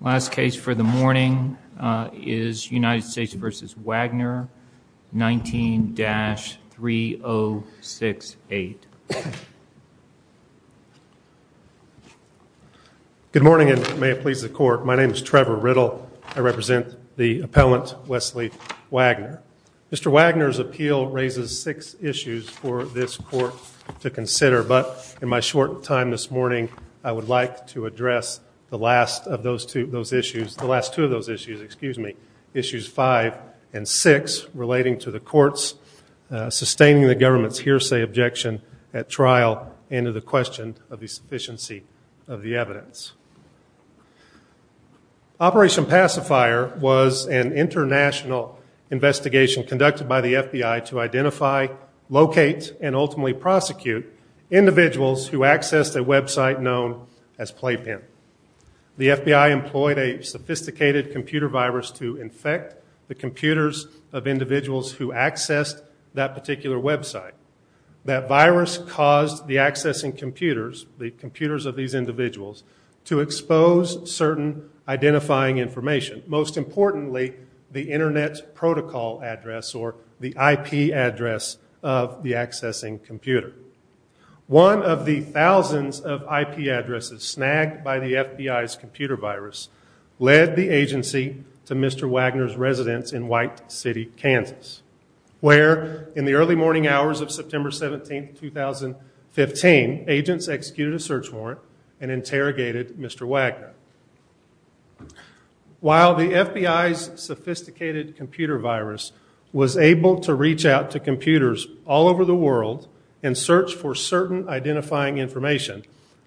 Last case for the morning is United States v. Wagner, 19-3068. Good morning and may it please the court. My name is Trevor Riddle. I represent the appellant, Wesley Wagner. Mr. Wagner's appeal raises six issues for this court to consider, but in my short time this morning, I would like to address the last two of those issues. Issues five and six relating to the court's sustaining the government's hearsay objection at trial and to the question of the sufficiency of the evidence. Operation Pacifier was an international investigation conducted by the FBI to identify, locate, and ultimately prosecute individuals who accessed a website known as Playpen. The FBI employed a sophisticated computer virus to infect the computers of individuals who accessed that particular website. That virus caused the accessing computers, the computers of these individuals, to expose certain identifying information. Most importantly, the internet protocol address or the IP address of the accessing computer. One of the thousands of IP addresses snagged by the FBI's computer virus led the agency to Mr. Wagner's residence in White City, Kansas, where in the early morning hours of September 17, 2015, agents executed a search warrant and interrogated Mr. Wagner. While the FBI's sophisticated computer virus was able to reach out to computers all over the world and search for certain identifying information,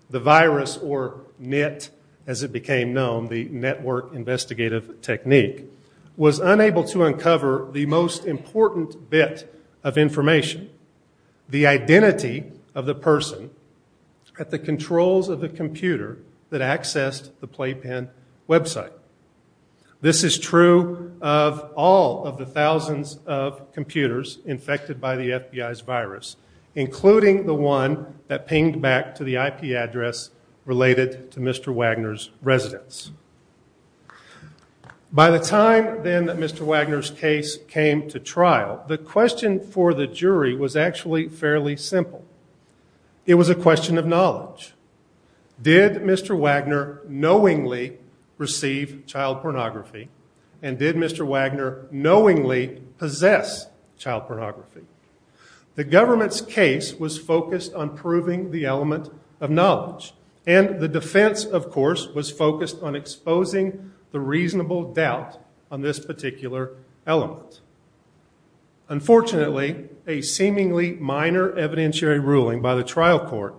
the virus or NIT as it became known, the Network Investigative Technique, was unable to uncover the most important bit of information, the identity of the person at the controls of the computer that accessed the Playpen website. This is true of all of the thousands of computers infected by the FBI's virus, including the one that pinged back to the IP address related to Mr. Wagner's residence. By the time then that Mr. Wagner's case came to trial, the question for the jury was actually fairly simple. It was a question of knowledge. Did Mr. Wagner knowingly receive child pornography, and did Mr. Wagner knowingly possess child pornography? The government's case was focused on proving the element of knowledge, and the defense, of course, was focused on exposing the reasonable doubt on this particular element. Unfortunately, a seemingly minor evidentiary ruling by the trial court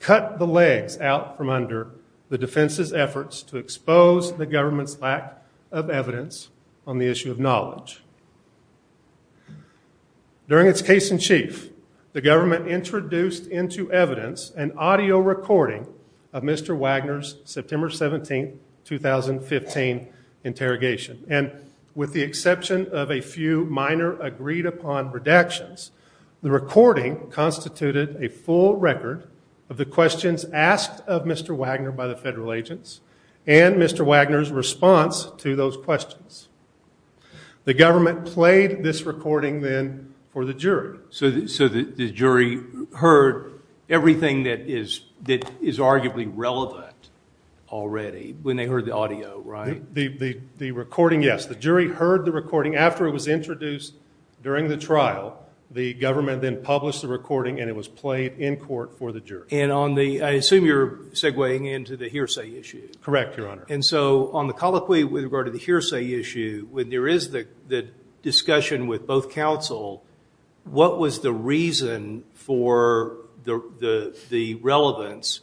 cut the legs out from under the defense's efforts to expose the government's lack of evidence on the issue of knowledge. During its case in chief, the government introduced into evidence an audio recording of Mr. Wagner's September 17, 2015 interrogation, and with the exception of a few minor agreed upon redactions, the recording constituted a full record of the questions asked of Mr. Wagner by the federal agents, and Mr. Wagner's response to those questions. The government played this recording then for the jury. So the jury heard everything that is arguably relevant already when they heard the audio, right? The recording, yes. The jury heard the recording after it was introduced during the trial. The government then published the recording, and it was played in court for the jury. And I assume you're segwaying into the hearsay issue. Correct, Your Honor. And so on the colloquy with regard to the hearsay issue, when there is the discussion with both counsel, what was the reason for the relevance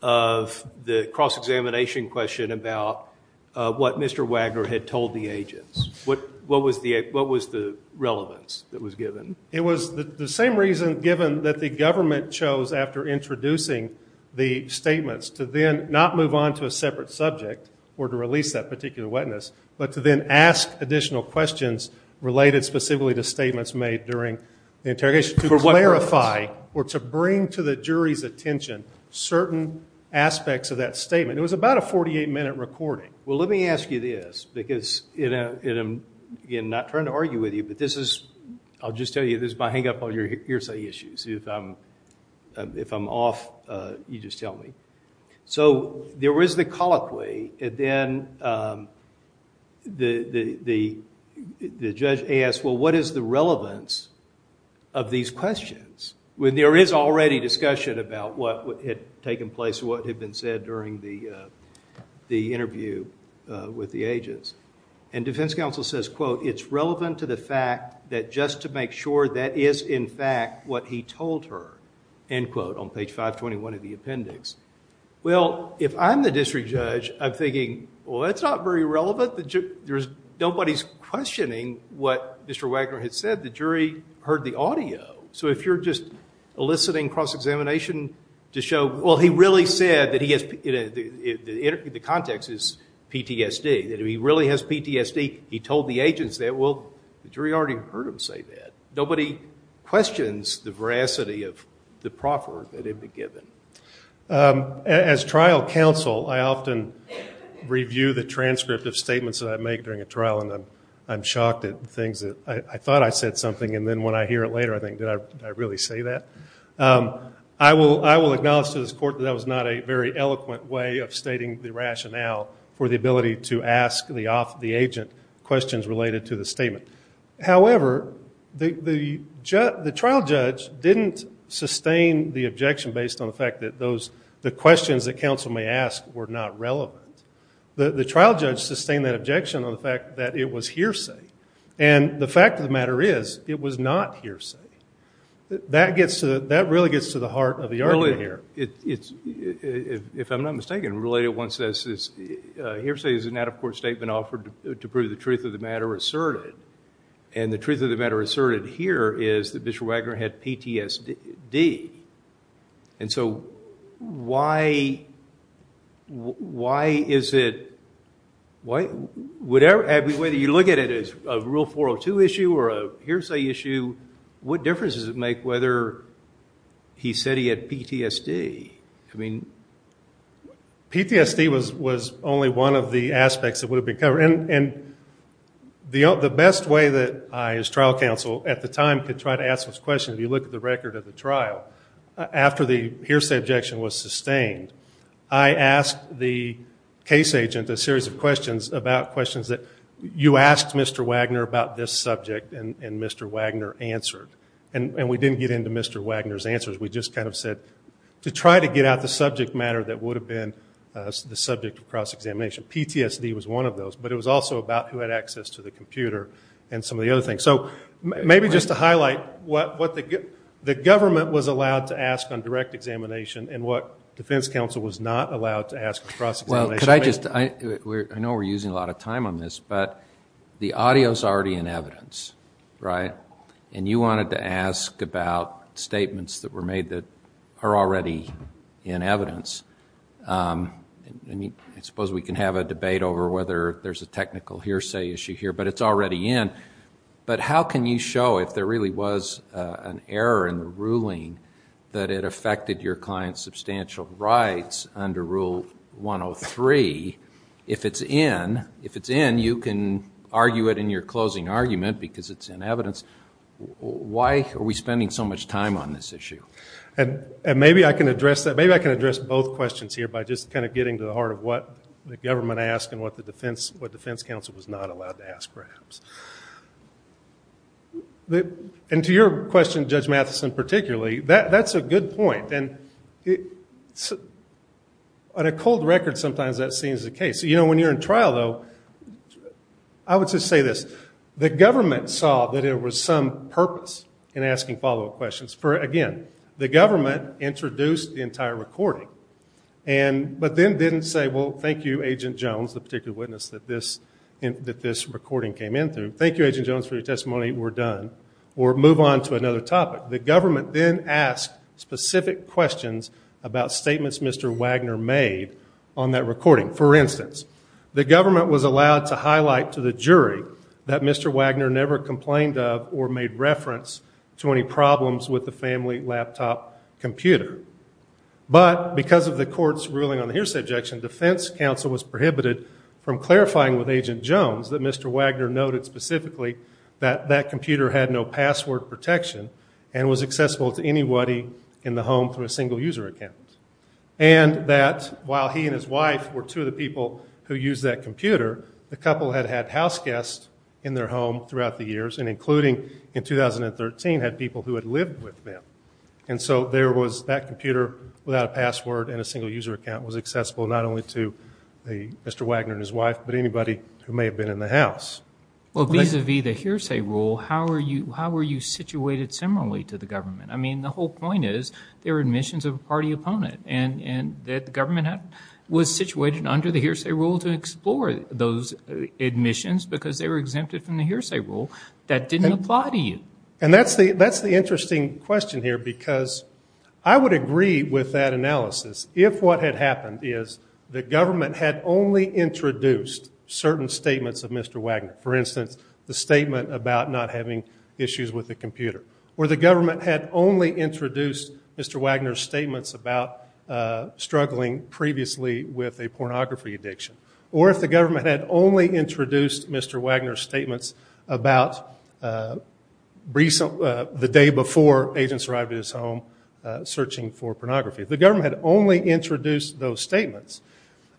of the cross-examination question about what Mr. Wagner had told the agents? What was the relevance that was given? It was the same reason given that the government chose after introducing the statements to then not move on to a separate subject or to release that particular witness, but to then ask additional questions related specifically to statements made during the interrogation to clarify or to bring to the jury's attention certain aspects of that statement. It was about a 48-minute recording. Well, let me ask you this because, again, I'm not trying to argue with you, but this is, I'll just tell you, this is my hang-up on your hearsay issues. If I'm off, you just tell me. So there is the colloquy, and then the judge asks, well, what is the relevance of these questions when there is already discussion about what had taken place, what had been said during the interview with the agents? And defense counsel says, quote, it's relevant to the fact that just to make sure that is, in fact, what he told her, end quote, on page 521 of the appendix. Well, if I'm the district judge, I'm thinking, well, that's not very relevant. Nobody's questioning what Mr. Wagner had said. The jury heard the audio. So if you're just eliciting cross-examination to show, well, he really said that he has, the context is PTSD, that if he really has PTSD, he told the agents that. Well, the jury already heard him say that. Nobody questions the veracity of the proffer that had been given. As trial counsel, I often review the transcript of statements that I make during a trial, and I'm shocked at things that I thought I said something, and then when I hear it later, I think, did I really say that? I will acknowledge to this court that that was not a very eloquent way of stating the rationale for the ability to ask the agent questions related to the statement. However, the trial judge didn't sustain the objection based on the fact that the questions that counsel may ask were not relevant. The trial judge sustained that objection on the fact that it was hearsay. And the fact of the matter is it was not hearsay. That really gets to the heart of the argument here. If I'm not mistaken, related one says hearsay is an out-of-court statement offered to prove the truth of the matter asserted, and the truth of the matter asserted here is that Bishop Wagner had PTSD. And so why is it, whether you look at it as a Rule 402 issue or a hearsay issue, what difference does it make whether he said he had PTSD? I mean, PTSD was only one of the aspects that would have been covered. And the best way that I as trial counsel at the time could try to ask those questions, if you look at the record of the trial, after the hearsay objection was sustained, I asked the case agent a series of questions about questions that you asked Mr. Wagner about this subject, and Mr. Wagner answered. And we didn't get into Mr. Wagner's answers. We just kind of said to try to get out the subject matter that would have been the subject of cross-examination. PTSD was one of those, but it was also about who had access to the computer and some of the other things. So maybe just to highlight what the government was allowed to ask on direct examination and what defense counsel was not allowed to ask on cross-examination. I know we're using a lot of time on this, but the audio is already in evidence, right? And you wanted to ask about statements that were made that are already in evidence. I suppose we can have a debate over whether there's a technical hearsay issue here, but it's already in. But how can you show, if there really was an error in the ruling, that it affected your client's substantial rights under Rule 103, if it's in, you can argue it in your closing argument because it's in evidence. Why are we spending so much time on this issue? And maybe I can address that. Maybe I can address both questions here by just kind of getting to the heart of what the government asked And to your question, Judge Matheson, particularly, that's a good point. And on a cold record, sometimes that seems the case. You know, when you're in trial, though, I would just say this. The government saw that there was some purpose in asking follow-up questions. For, again, the government introduced the entire recording, but then didn't say, well, thank you, Agent Jones, the particular witness that this recording came in through. Thank you, Agent Jones, for your testimony. We're done. Or move on to another topic. The government then asked specific questions about statements Mr. Wagner made on that recording. For instance, the government was allowed to highlight to the jury that Mr. Wagner never complained of or made reference to any problems with the family laptop computer. But because of the court's ruling on the hearsay objection, defense counsel was prohibited from clarifying with Agent Jones that Mr. Wagner noted specifically that that computer had no password protection and was accessible to anybody in the home through a single user account. And that while he and his wife were two of the people who used that computer, the couple had had houseguests in their home throughout the years, and including in 2013 had people who had lived with them. And so there was that computer without a password and a single user account was accessible not only to Mr. Wagner and his wife, but anybody who may have been in the house. Well, vis-a-vis the hearsay rule, how were you situated similarly to the government? I mean, the whole point is there are admissions of a party opponent, and the government was situated under the hearsay rule to explore those admissions because they were exempted from the hearsay rule. That didn't apply to you. And that's the interesting question here because I would agree with that analysis if what had happened is the government had only introduced certain statements of Mr. Wagner, for instance, the statement about not having issues with the computer, or the government had only introduced Mr. Wagner's statements about struggling previously with a pornography addiction, or if the government had only introduced Mr. Wagner's statements about the day before agents arrived at his home searching for pornography. If the government had only introduced those statements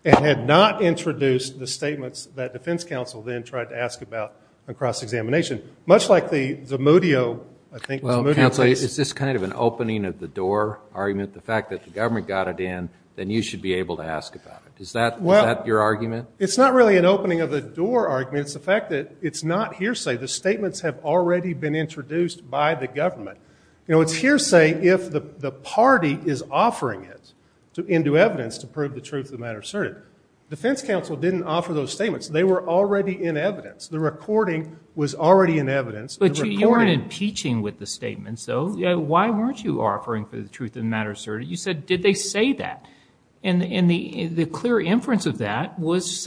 and had not introduced the statements that defense counsel then tried to ask about in cross-examination, much like the Zamudio, I think, the Zamudio case. Well, counsel, is this kind of an opening-of-the-door argument, the fact that the government got it in, then you should be able to ask about it? Is that your argument? It's not really an opening-of-the-door argument. It's the fact that it's not hearsay. The statements have already been introduced by the government. It's hearsay if the party is offering it into evidence to prove the truth of the matter asserted. Defense counsel didn't offer those statements. They were already in evidence. The recording was already in evidence. But you weren't impeaching with the statements, though. Why weren't you offering for the truth of the matter asserted? You said, did they say that? And the clear inference of that was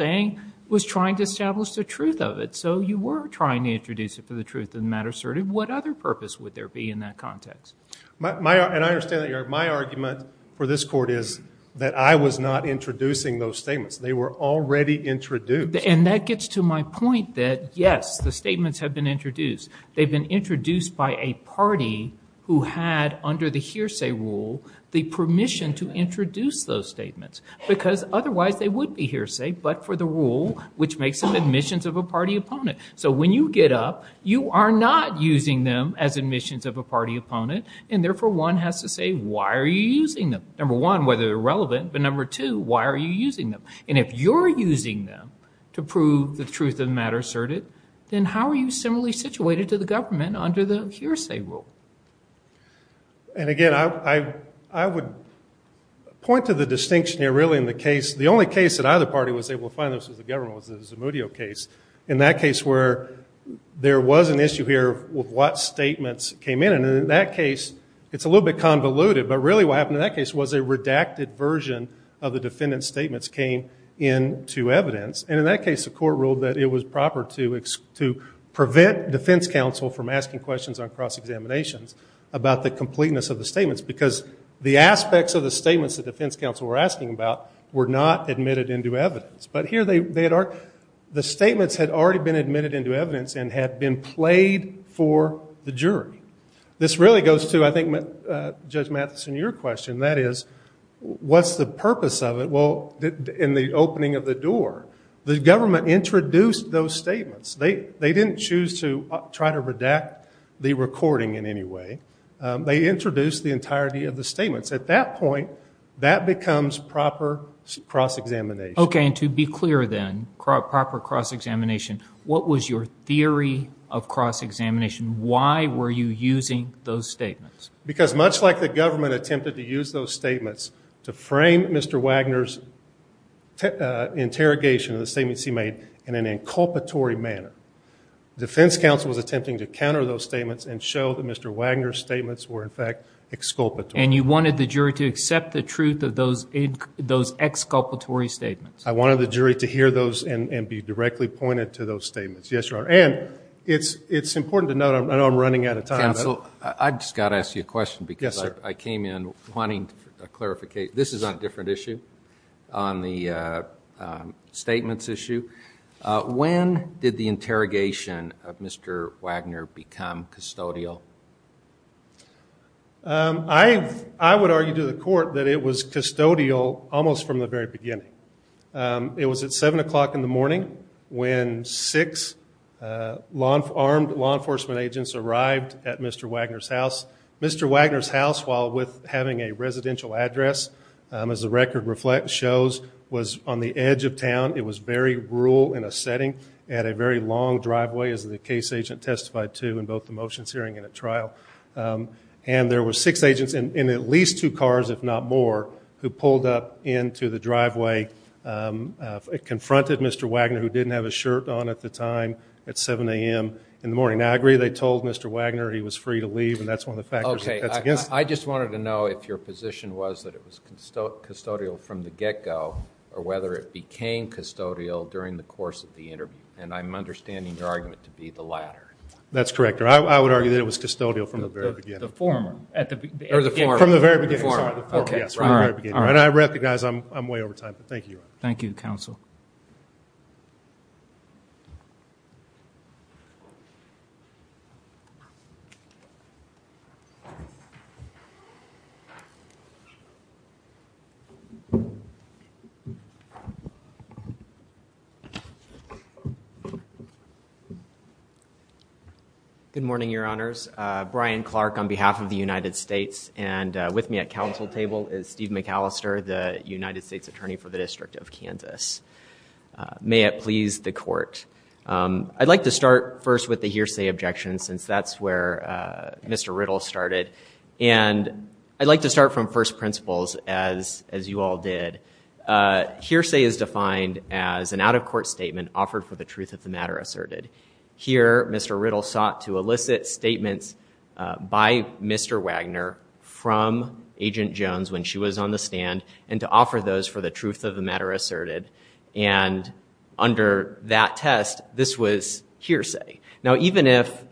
trying to establish the truth of it. So you were trying to introduce it for the truth of the matter asserted. What other purpose would there be in that context? And I understand that my argument for this court is that I was not introducing those statements. They were already introduced. And that gets to my point that, yes, the statements have been introduced. They've been introduced by a party who had, under the hearsay rule, the permission to introduce those statements. Because otherwise they would be hearsay, but for the rule which makes them admissions of a party opponent. So when you get up, you are not using them as admissions of a party opponent. And, therefore, one has to say, why are you using them? Number one, whether they're relevant. But, number two, why are you using them? And if you're using them to prove the truth of the matter asserted, then how are you similarly situated to the government under the hearsay rule? And, again, I would point to the distinction here, really, in the case. The only case that either party was able to find this was the government was the Zamudio case. In that case where there was an issue here with what statements came in. And in that case, it's a little bit convoluted. But, really, what happened in that case was a redacted version of the defendant's statements came into evidence. And, in that case, the court ruled that it was proper to prevent defense counsel from asking questions on cross-examinations about the completeness of the statements. Because the aspects of the statements that defense counsel were asking about were not admitted into evidence. But, here, the statements had already been admitted into evidence and had been played for the jury. This really goes to, I think, Judge Mathison, your question. That is, what's the purpose of it? Well, in the opening of the door, the government introduced those statements. They didn't choose to try to redact the recording in any way. They introduced the entirety of the statements. At that point, that becomes proper cross-examination. Okay. And to be clear, then, proper cross-examination, what was your theory of cross-examination? Why were you using those statements? Because, much like the government attempted to use those statements to frame Mr. Wagner's interrogation of the statements he made in an inculpatory manner, defense counsel was attempting to counter those statements and show that Mr. Wagner's statements were, in fact, exculpatory. And you wanted the jury to accept the truth of those exculpatory statements? I wanted the jury to hear those and be directly pointed to those statements. Yes, Your Honor. And it's important to note, I know I'm running out of time. Counsel, I've just got to ask you a question because I came in wanting a clarification. This is on a different issue, on the statements issue. When did the interrogation of Mr. Wagner become custodial? I would argue to the court that it was custodial almost from the very beginning. It was at 7 o'clock in the morning when six armed law enforcement agents arrived at Mr. Wagner's house. Mr. Wagner's house, while having a residential address, as the record shows, was on the edge of town. It was very rural in a setting. It had a very long driveway, as the case agent testified to in both the motions hearing and at trial. And there were six agents in at least two cars, if not more, who pulled up into the driveway, confronted Mr. Wagner, who didn't have his shirt on at the time, at 7 a.m. in the morning. Now, I agree they told Mr. Wagner he was free to leave, and that's one of the factors that's against him. I just wanted to know if your position was that it was custodial from the get-go or whether it became custodial during the course of the interview. And I'm understanding your argument to be the latter. That's correct, Your Honor. I would argue that it was custodial from the very beginning. The former. Or the former. From the very beginning. Okay. And I recognize I'm way over time, but thank you, Your Honor. Thank you, counsel. Good morning, Your Honors. Brian Clark on behalf of the United States. And with me at counsel table is Steve McAllister, the United States Attorney for the District of Kansas. May it please the court. I'd like to start first with the hearsay objection, since that's where Mr. Riddle started. And I'd like to start from first principles, as you all did. Hearsay is defined as an out-of-court statement offered for the truth of the matter asserted. Here, Mr. Riddle sought to elicit statements by Mr. Wagner from Agent Jones when she was on the stand and to offer those for the truth of the matter asserted. And under that test, this was hearsay. Now, even if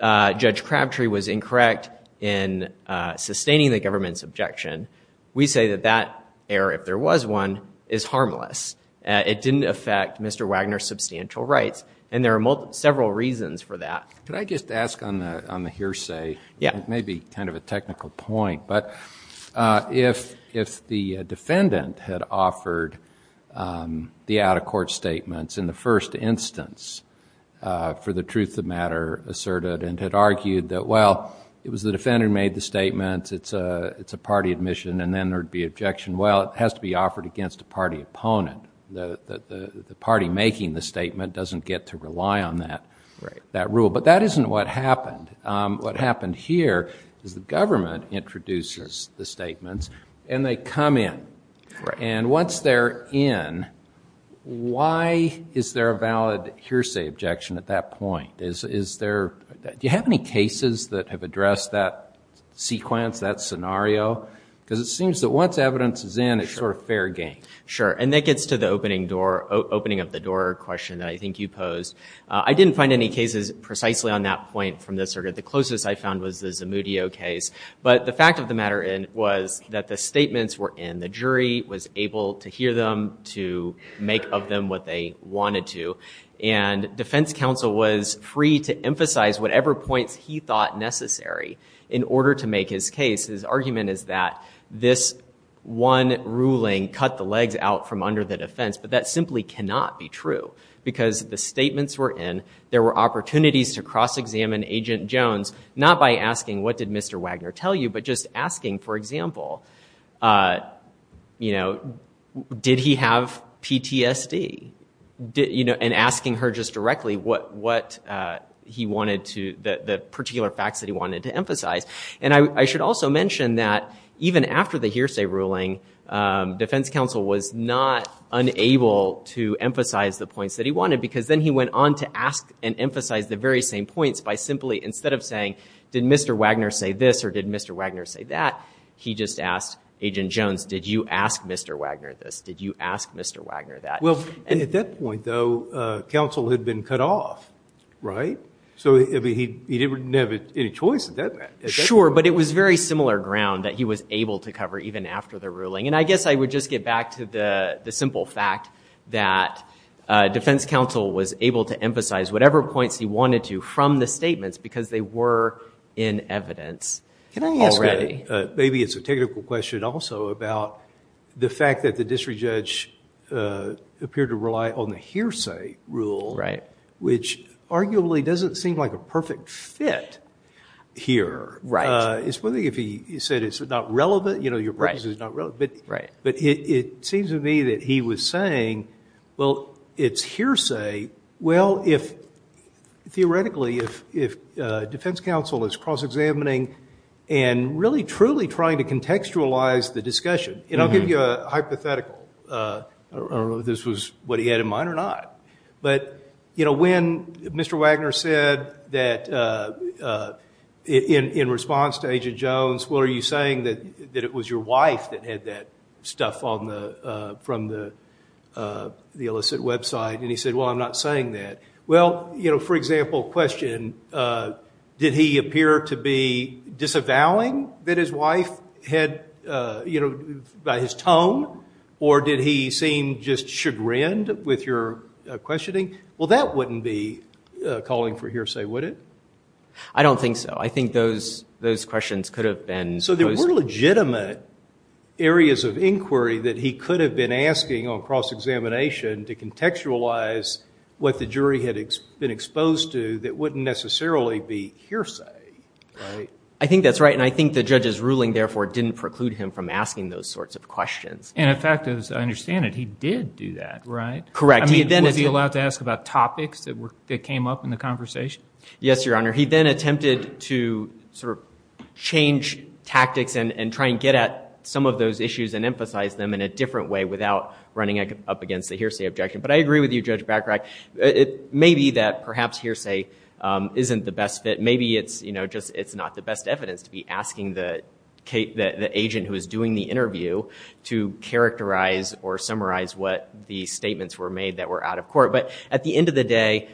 Judge Crabtree was incorrect in sustaining the government's objection, we say that that error, if there was one, is harmless. It didn't affect Mr. Wagner's substantial rights. And there are several reasons for that. Could I just ask on the hearsay? Yeah. If the defendant had offered the out-of-court statements in the first instance for the truth of the matter asserted and had argued that, well, it was the defendant who made the statement, it's a party admission, and then there would be objection, well, it has to be offered against a party opponent. The party making the statement doesn't get to rely on that rule. But that isn't what happened. What happened here is the government introduces the statements and they come in. And once they're in, why is there a valid hearsay objection at that point? Do you have any cases that have addressed that sequence, that scenario? Because it seems that once evidence is in, it's sort of fair game. Sure. And that gets to the opening of the door question that I think you posed. I didn't find any cases precisely on that point from this circuit. The closest I found was the Zamudio case. But the fact of the matter was that the statements were in. The jury was able to hear them, to make of them what they wanted to. And defense counsel was free to emphasize whatever points he thought necessary in order to make his case. His argument is that this one ruling cut the legs out from under the defense. But that simply cannot be true. Because the statements were in. There were opportunities to cross-examine Agent Jones, not by asking what did Mr. Wagner tell you, but just asking, for example, did he have PTSD? And asking her just directly what he wanted to, the particular facts that he wanted to emphasize. And I should also mention that even after the hearsay ruling, defense counsel was not unable to emphasize the points that he wanted. Because then he went on to ask and emphasize the very same points by simply, instead of saying, did Mr. Wagner say this or did Mr. Wagner say that? He just asked Agent Jones, did you ask Mr. Wagner this? Did you ask Mr. Wagner that? Well, at that point, though, counsel had been cut off, right? So he didn't have any choice at that point. Sure, but it was very similar ground that he was able to cover even after the ruling. And I guess I would just get back to the simple fact that defense counsel was able to emphasize whatever points he wanted to from the statements because they were in evidence already. Can I ask maybe it's a technical question also about the fact that the district judge appeared to rely on the hearsay rule, which arguably doesn't seem like a perfect fit here. Especially if he said it's not relevant, you know, your purpose is not relevant. But it seems to me that he was saying, well, it's hearsay. Well, theoretically, if defense counsel is cross-examining and really truly trying to contextualize the discussion, and I'll give you a hypothetical. I don't know if this was what he had in mind or not. But, you know, when Mr. Wagner said that in response to Agent Jones, well, are you saying that it was your wife that had that stuff from the illicit website? And he said, well, I'm not saying that. Well, you know, for example, question, did he appear to be disavowing that his wife had, you know, by his tone? Or did he seem just chagrined with your questioning? Well, that wouldn't be calling for hearsay, would it? I don't think so. I think those questions could have been posed. So there were legitimate areas of inquiry that he could have been asking on cross-examination to contextualize what the jury had been exposed to that wouldn't necessarily be hearsay, right? I think that's right, and I think the judge's ruling, therefore, didn't preclude him from asking those sorts of questions. And, in fact, as I understand it, he did do that, right? Correct. I mean, was he allowed to ask about topics that came up in the conversation? Yes, Your Honor. He then attempted to sort of change tactics and try and get at some of those issues and emphasize them in a different way without running up against the hearsay objection. But I agree with you, Judge Bachrach. It may be that perhaps hearsay isn't the best fit. Maybe it's not the best evidence to be asking the agent who is doing the interview to characterize or summarize what the statements were made that were out of court. But at the end of the day,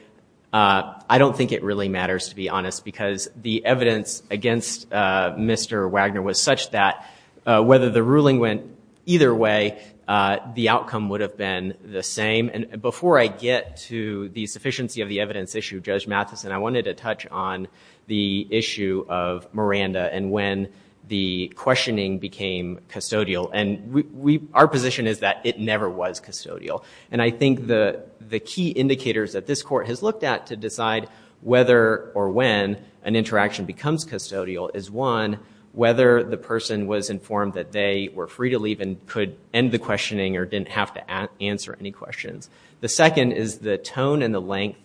I don't think it really matters, to be honest, because the evidence against Mr. Wagner was such that whether the ruling went either way, the outcome would have been the same. And before I get to the sufficiency of the evidence issue, Judge Mathison, I wanted to touch on the issue of Miranda and when the questioning became custodial. And our position is that it never was custodial. And I think the key indicators that this court has looked at to decide whether or when an interaction becomes custodial is, one, whether the person was informed that they were free to leave and could end the questioning or didn't have to answer any questions. The second is the tone and the length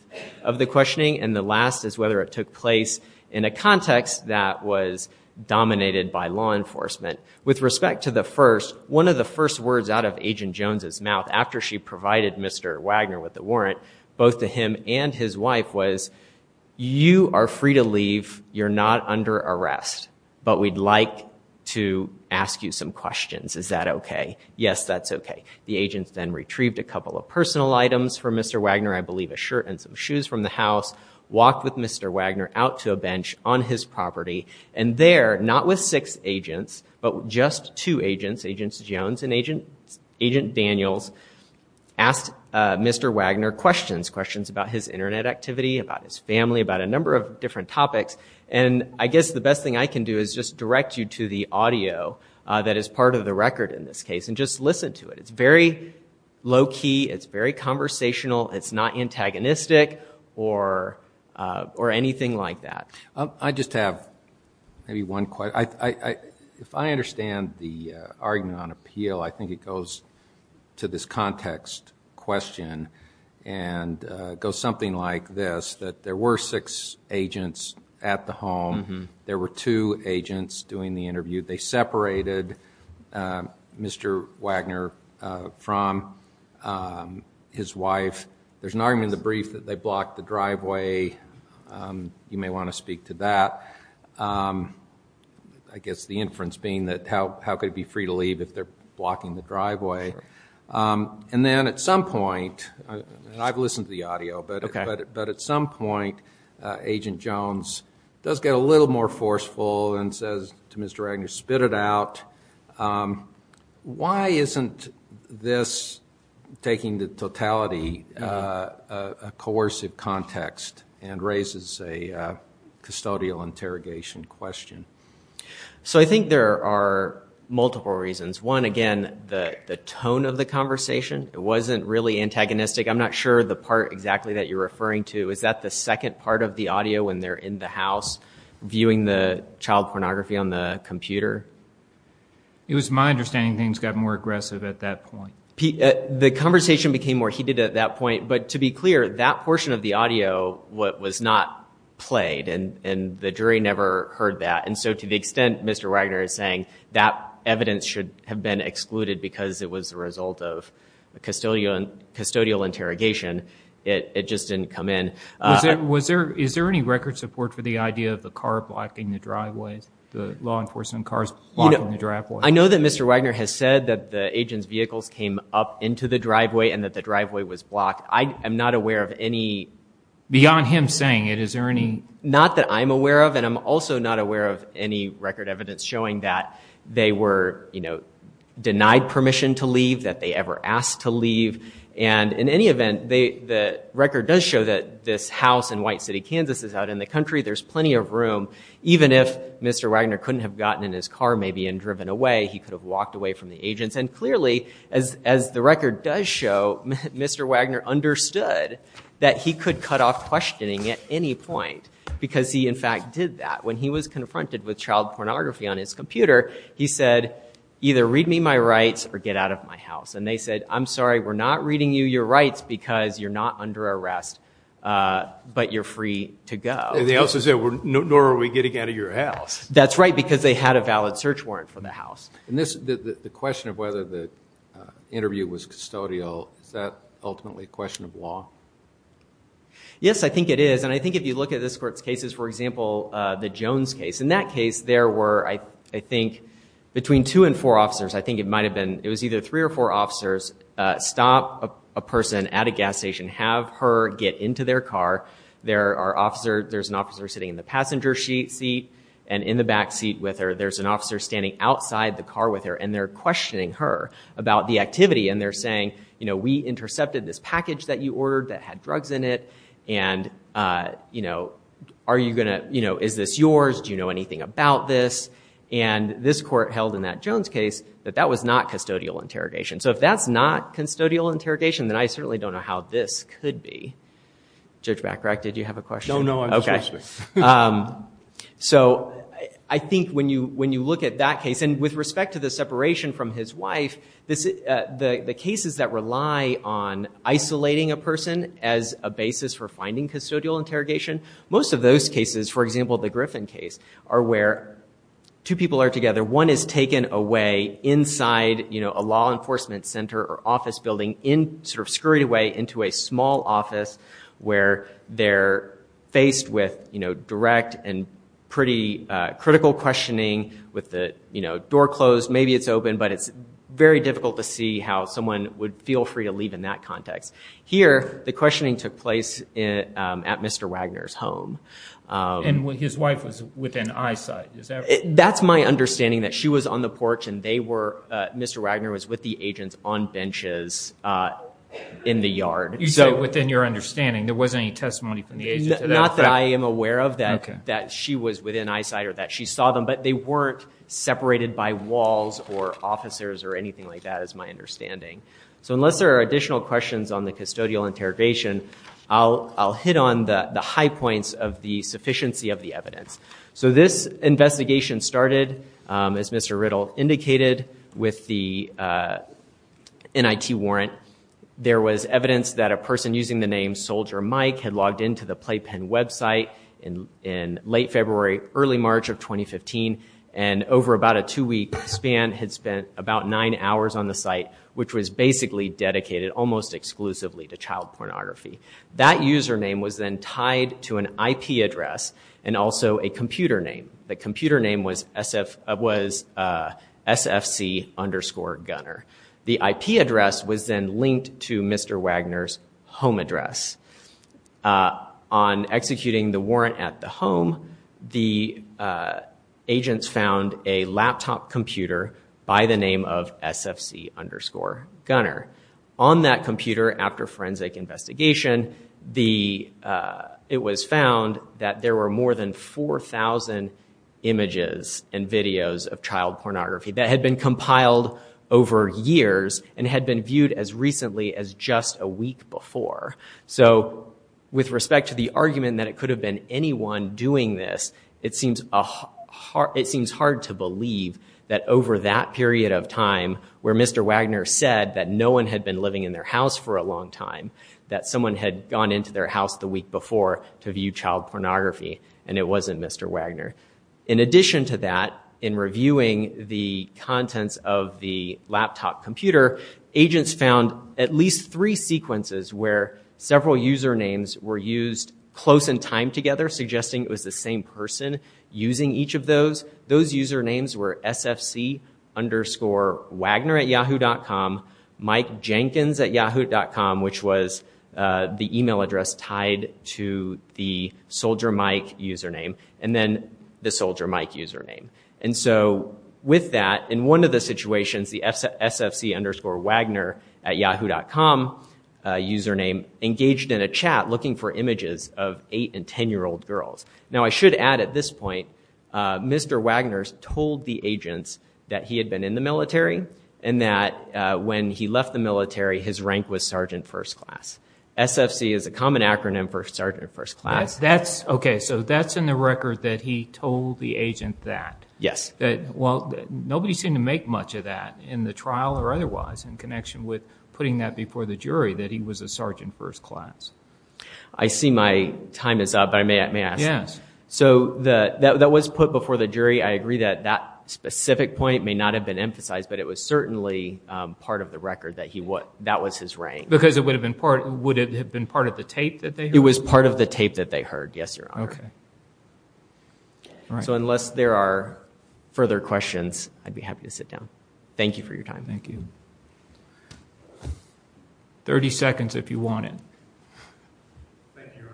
of the questioning. And the last is whether it took place in a context that was dominated by law enforcement. With respect to the first, one of the first words out of Agent Jones' mouth after she provided Mr. Wagner with the warrant, both to him and his wife, was, you are free to leave. You're not under arrest. But we'd like to ask you some questions. Is that OK? Yes, that's OK. The agents then retrieved a couple of personal items from Mr. Wagner, I believe a shirt and some shoes from the house, walked with Mr. Wagner out to a bench on his property. And there, not with six agents, but just two agents, Agent Jones and Agent Daniels, asked Mr. Wagner questions, questions about his Internet activity, about his family, about a number of different topics. And I guess the best thing I can do is just direct you to the audio that is part of the record in this case and just listen to it. It's very low-key. It's very conversational. It's not antagonistic or anything like that. I just have maybe one question. If I understand the argument on appeal, I think it goes to this context question and goes something like this, that there were six agents at the home. There were two agents doing the interview. They separated Mr. Wagner from his wife. There's an argument in the brief that they blocked the driveway. You may want to speak to that. I guess the inference being that how could it be free to leave if they're blocking the driveway? And then at some point, and I've listened to the audio, but at some point, Agent Jones does get a little more forceful and says to Mr. Wagner, spit it out. Why isn't this, taking the totality, a coercive context and raises a custodial interrogation question? So I think there are multiple reasons. One, again, the tone of the conversation, it wasn't really antagonistic. I'm not sure the part exactly that you're referring to. Is that the second part of the audio when they're in the house viewing the child pornography on the computer? It was my understanding things got more aggressive at that point. The conversation became more heated at that point, but to be clear, that portion of the audio was not played, and the jury never heard that. And so to the extent Mr. Wagner is saying that evidence should have been excluded because it was a result of a custodial interrogation, it just didn't come in. Is there any record support for the idea of the car blocking the driveway, the law enforcement cars blocking the driveway? I know that Mr. Wagner has said that the agent's vehicles came up into the driveway and that the driveway was blocked. I am not aware of any— Beyond him saying it, is there any— Not that I'm aware of, and I'm also not aware of any record evidence showing that they were denied permission to leave, that they ever asked to leave. And in any event, the record does show that this house in White City, Kansas, is out in the country. There's plenty of room. Even if Mr. Wagner couldn't have gotten in his car maybe and driven away, he could have walked away from the agents. And clearly, as the record does show, Mr. Wagner understood that he could cut off questioning at any point because he in fact did that when he was confronted with child pornography on his computer. He said, either read me my rights or get out of my house. And they said, I'm sorry, we're not reading you your rights because you're not under arrest, but you're free to go. And they also said, nor are we getting out of your house. That's right, because they had a valid search warrant for the house. The question of whether the interview was custodial, is that ultimately a question of law? Yes, I think it is. And I think if you look at this court's cases, for example, the Jones case. In that case, there were, I think, between two and four officers, I think it was either three or four officers, stop a person at a gas station, have her get into their car. There's an officer sitting in the passenger seat and in the back seat with her. There's an officer standing outside the car with her, and they're questioning her about the activity. And they're saying, we intercepted this package that you ordered that had drugs in it, and is this yours? Do you know anything about this? And this court held in that Jones case that that was not custodial interrogation. So if that's not custodial interrogation, then I certainly don't know how this could be. Judge Bacharach, did you have a question? No, no, I'm just questioning. So I think when you look at that case, and with respect to the separation from his wife, the cases that rely on isolating a person as a basis for finding custodial interrogation, most of those cases, for example, the Griffin case, are where two people are together. One is taken away inside a law enforcement center or office building, sort of scurried away into a small office where they're faced with direct and pretty critical questioning with the door closed. Maybe it's open, but it's very difficult to see how someone would feel free to leave in that context. Here, the questioning took place at Mr. Wagner's home. And his wife was within eyesight. That's my understanding, that she was on the porch, and Mr. Wagner was with the agents on benches in the yard. You said within your understanding. There wasn't any testimony from the agents. Not that I am aware of that she was within eyesight or that she saw them, but they weren't separated by walls or officers or anything like that is my understanding. Unless there are additional questions on the custodial interrogation, I'll hit on the high points of the sufficiency of the evidence. This investigation started, as Mr. Riddle indicated, with the NIT warrant. There was evidence that a person using the name Soldier Mike had logged into the Playpen website in late February, early March of 2015, and over about a two-week span had spent about nine hours on the site, which was basically dedicated almost exclusively to child pornography. That username was then tied to an IP address and also a computer name. The computer name was sfc underscore gunner. The IP address was then linked to Mr. Wagner's home address. On executing the warrant at the home, the agents found a laptop computer by the name of sfc underscore gunner. On that computer, after forensic investigation, it was found that there were more than 4,000 images and videos of child pornography that had been compiled over years and had been viewed as recently as just a week before. So with respect to the argument that it could have been anyone doing this, it seems hard to believe that over that period of time, where Mr. Wagner said that no one had been living in their house for a long time, that someone had gone into their house the week before to view child pornography, and it wasn't Mr. Wagner. In addition to that, in reviewing the contents of the laptop computer, agents found at least three sequences where several usernames were used close in time together, suggesting it was the same person using each of those. Those usernames were sfc underscore Wagner at yahoo.com, Mike Jenkins at yahoo.com, which was the email address tied to the Soldier Mike username. And then the Soldier Mike username. And so with that, in one of the situations, the sfc underscore Wagner at yahoo.com username engaged in a chat looking for images of 8- and 10-year-old girls. Now I should add at this point, Mr. Wagner told the agents that he had been in the military and that when he left the military, his rank was Sergeant First Class. SFC is a common acronym for Sergeant First Class. Okay, so that's in the record that he told the agent that. Yes. Well, nobody seemed to make much of that in the trial or otherwise in connection with putting that before the jury that he was a Sergeant First Class. I see my time is up, but may I ask? Yes. So that was put before the jury. I agree that that specific point may not have been emphasized, but it was certainly part of the record that that was his rank. Because it would have been part of the tape that they heard? It was part of the tape that they heard, yes, Your Honor. Okay. So unless there are further questions, I'd be happy to sit down. Thank you for your time. Thank you. Thirty seconds if you want it. Thank you, Your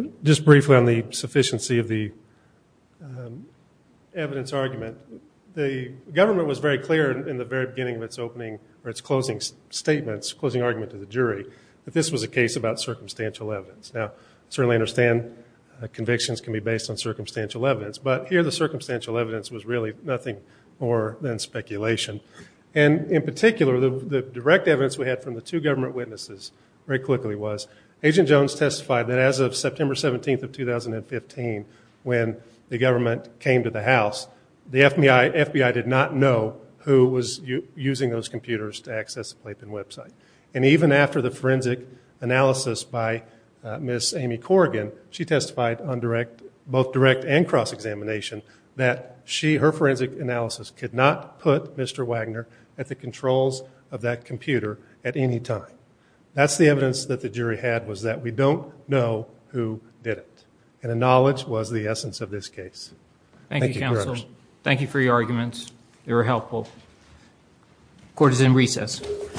Honor. Just briefly on the sufficiency of the evidence argument, the government was very clear in the very beginning of its opening or its closing statements, closing argument to the jury, that this was a case about circumstantial evidence. Now, I certainly understand convictions can be based on circumstantial evidence, but here the circumstantial evidence was really nothing more than speculation. And in particular, the direct evidence we had from the two government witnesses very quickly was Agent Jones testified that as of September 17th of 2015, when the government came to the House, the FBI did not know who was using those computers to access the Playpen website. And even after the forensic analysis by Ms. Amy Corrigan, she testified on both direct and cross-examination that her forensic analysis could not put Mr. Wagner at the controls of that computer at any time. That's the evidence that the jury had was that we don't know who did it. And the knowledge was the essence of this case. Thank you, Counsel. Thank you for your arguments. They were helpful. Court is in recess.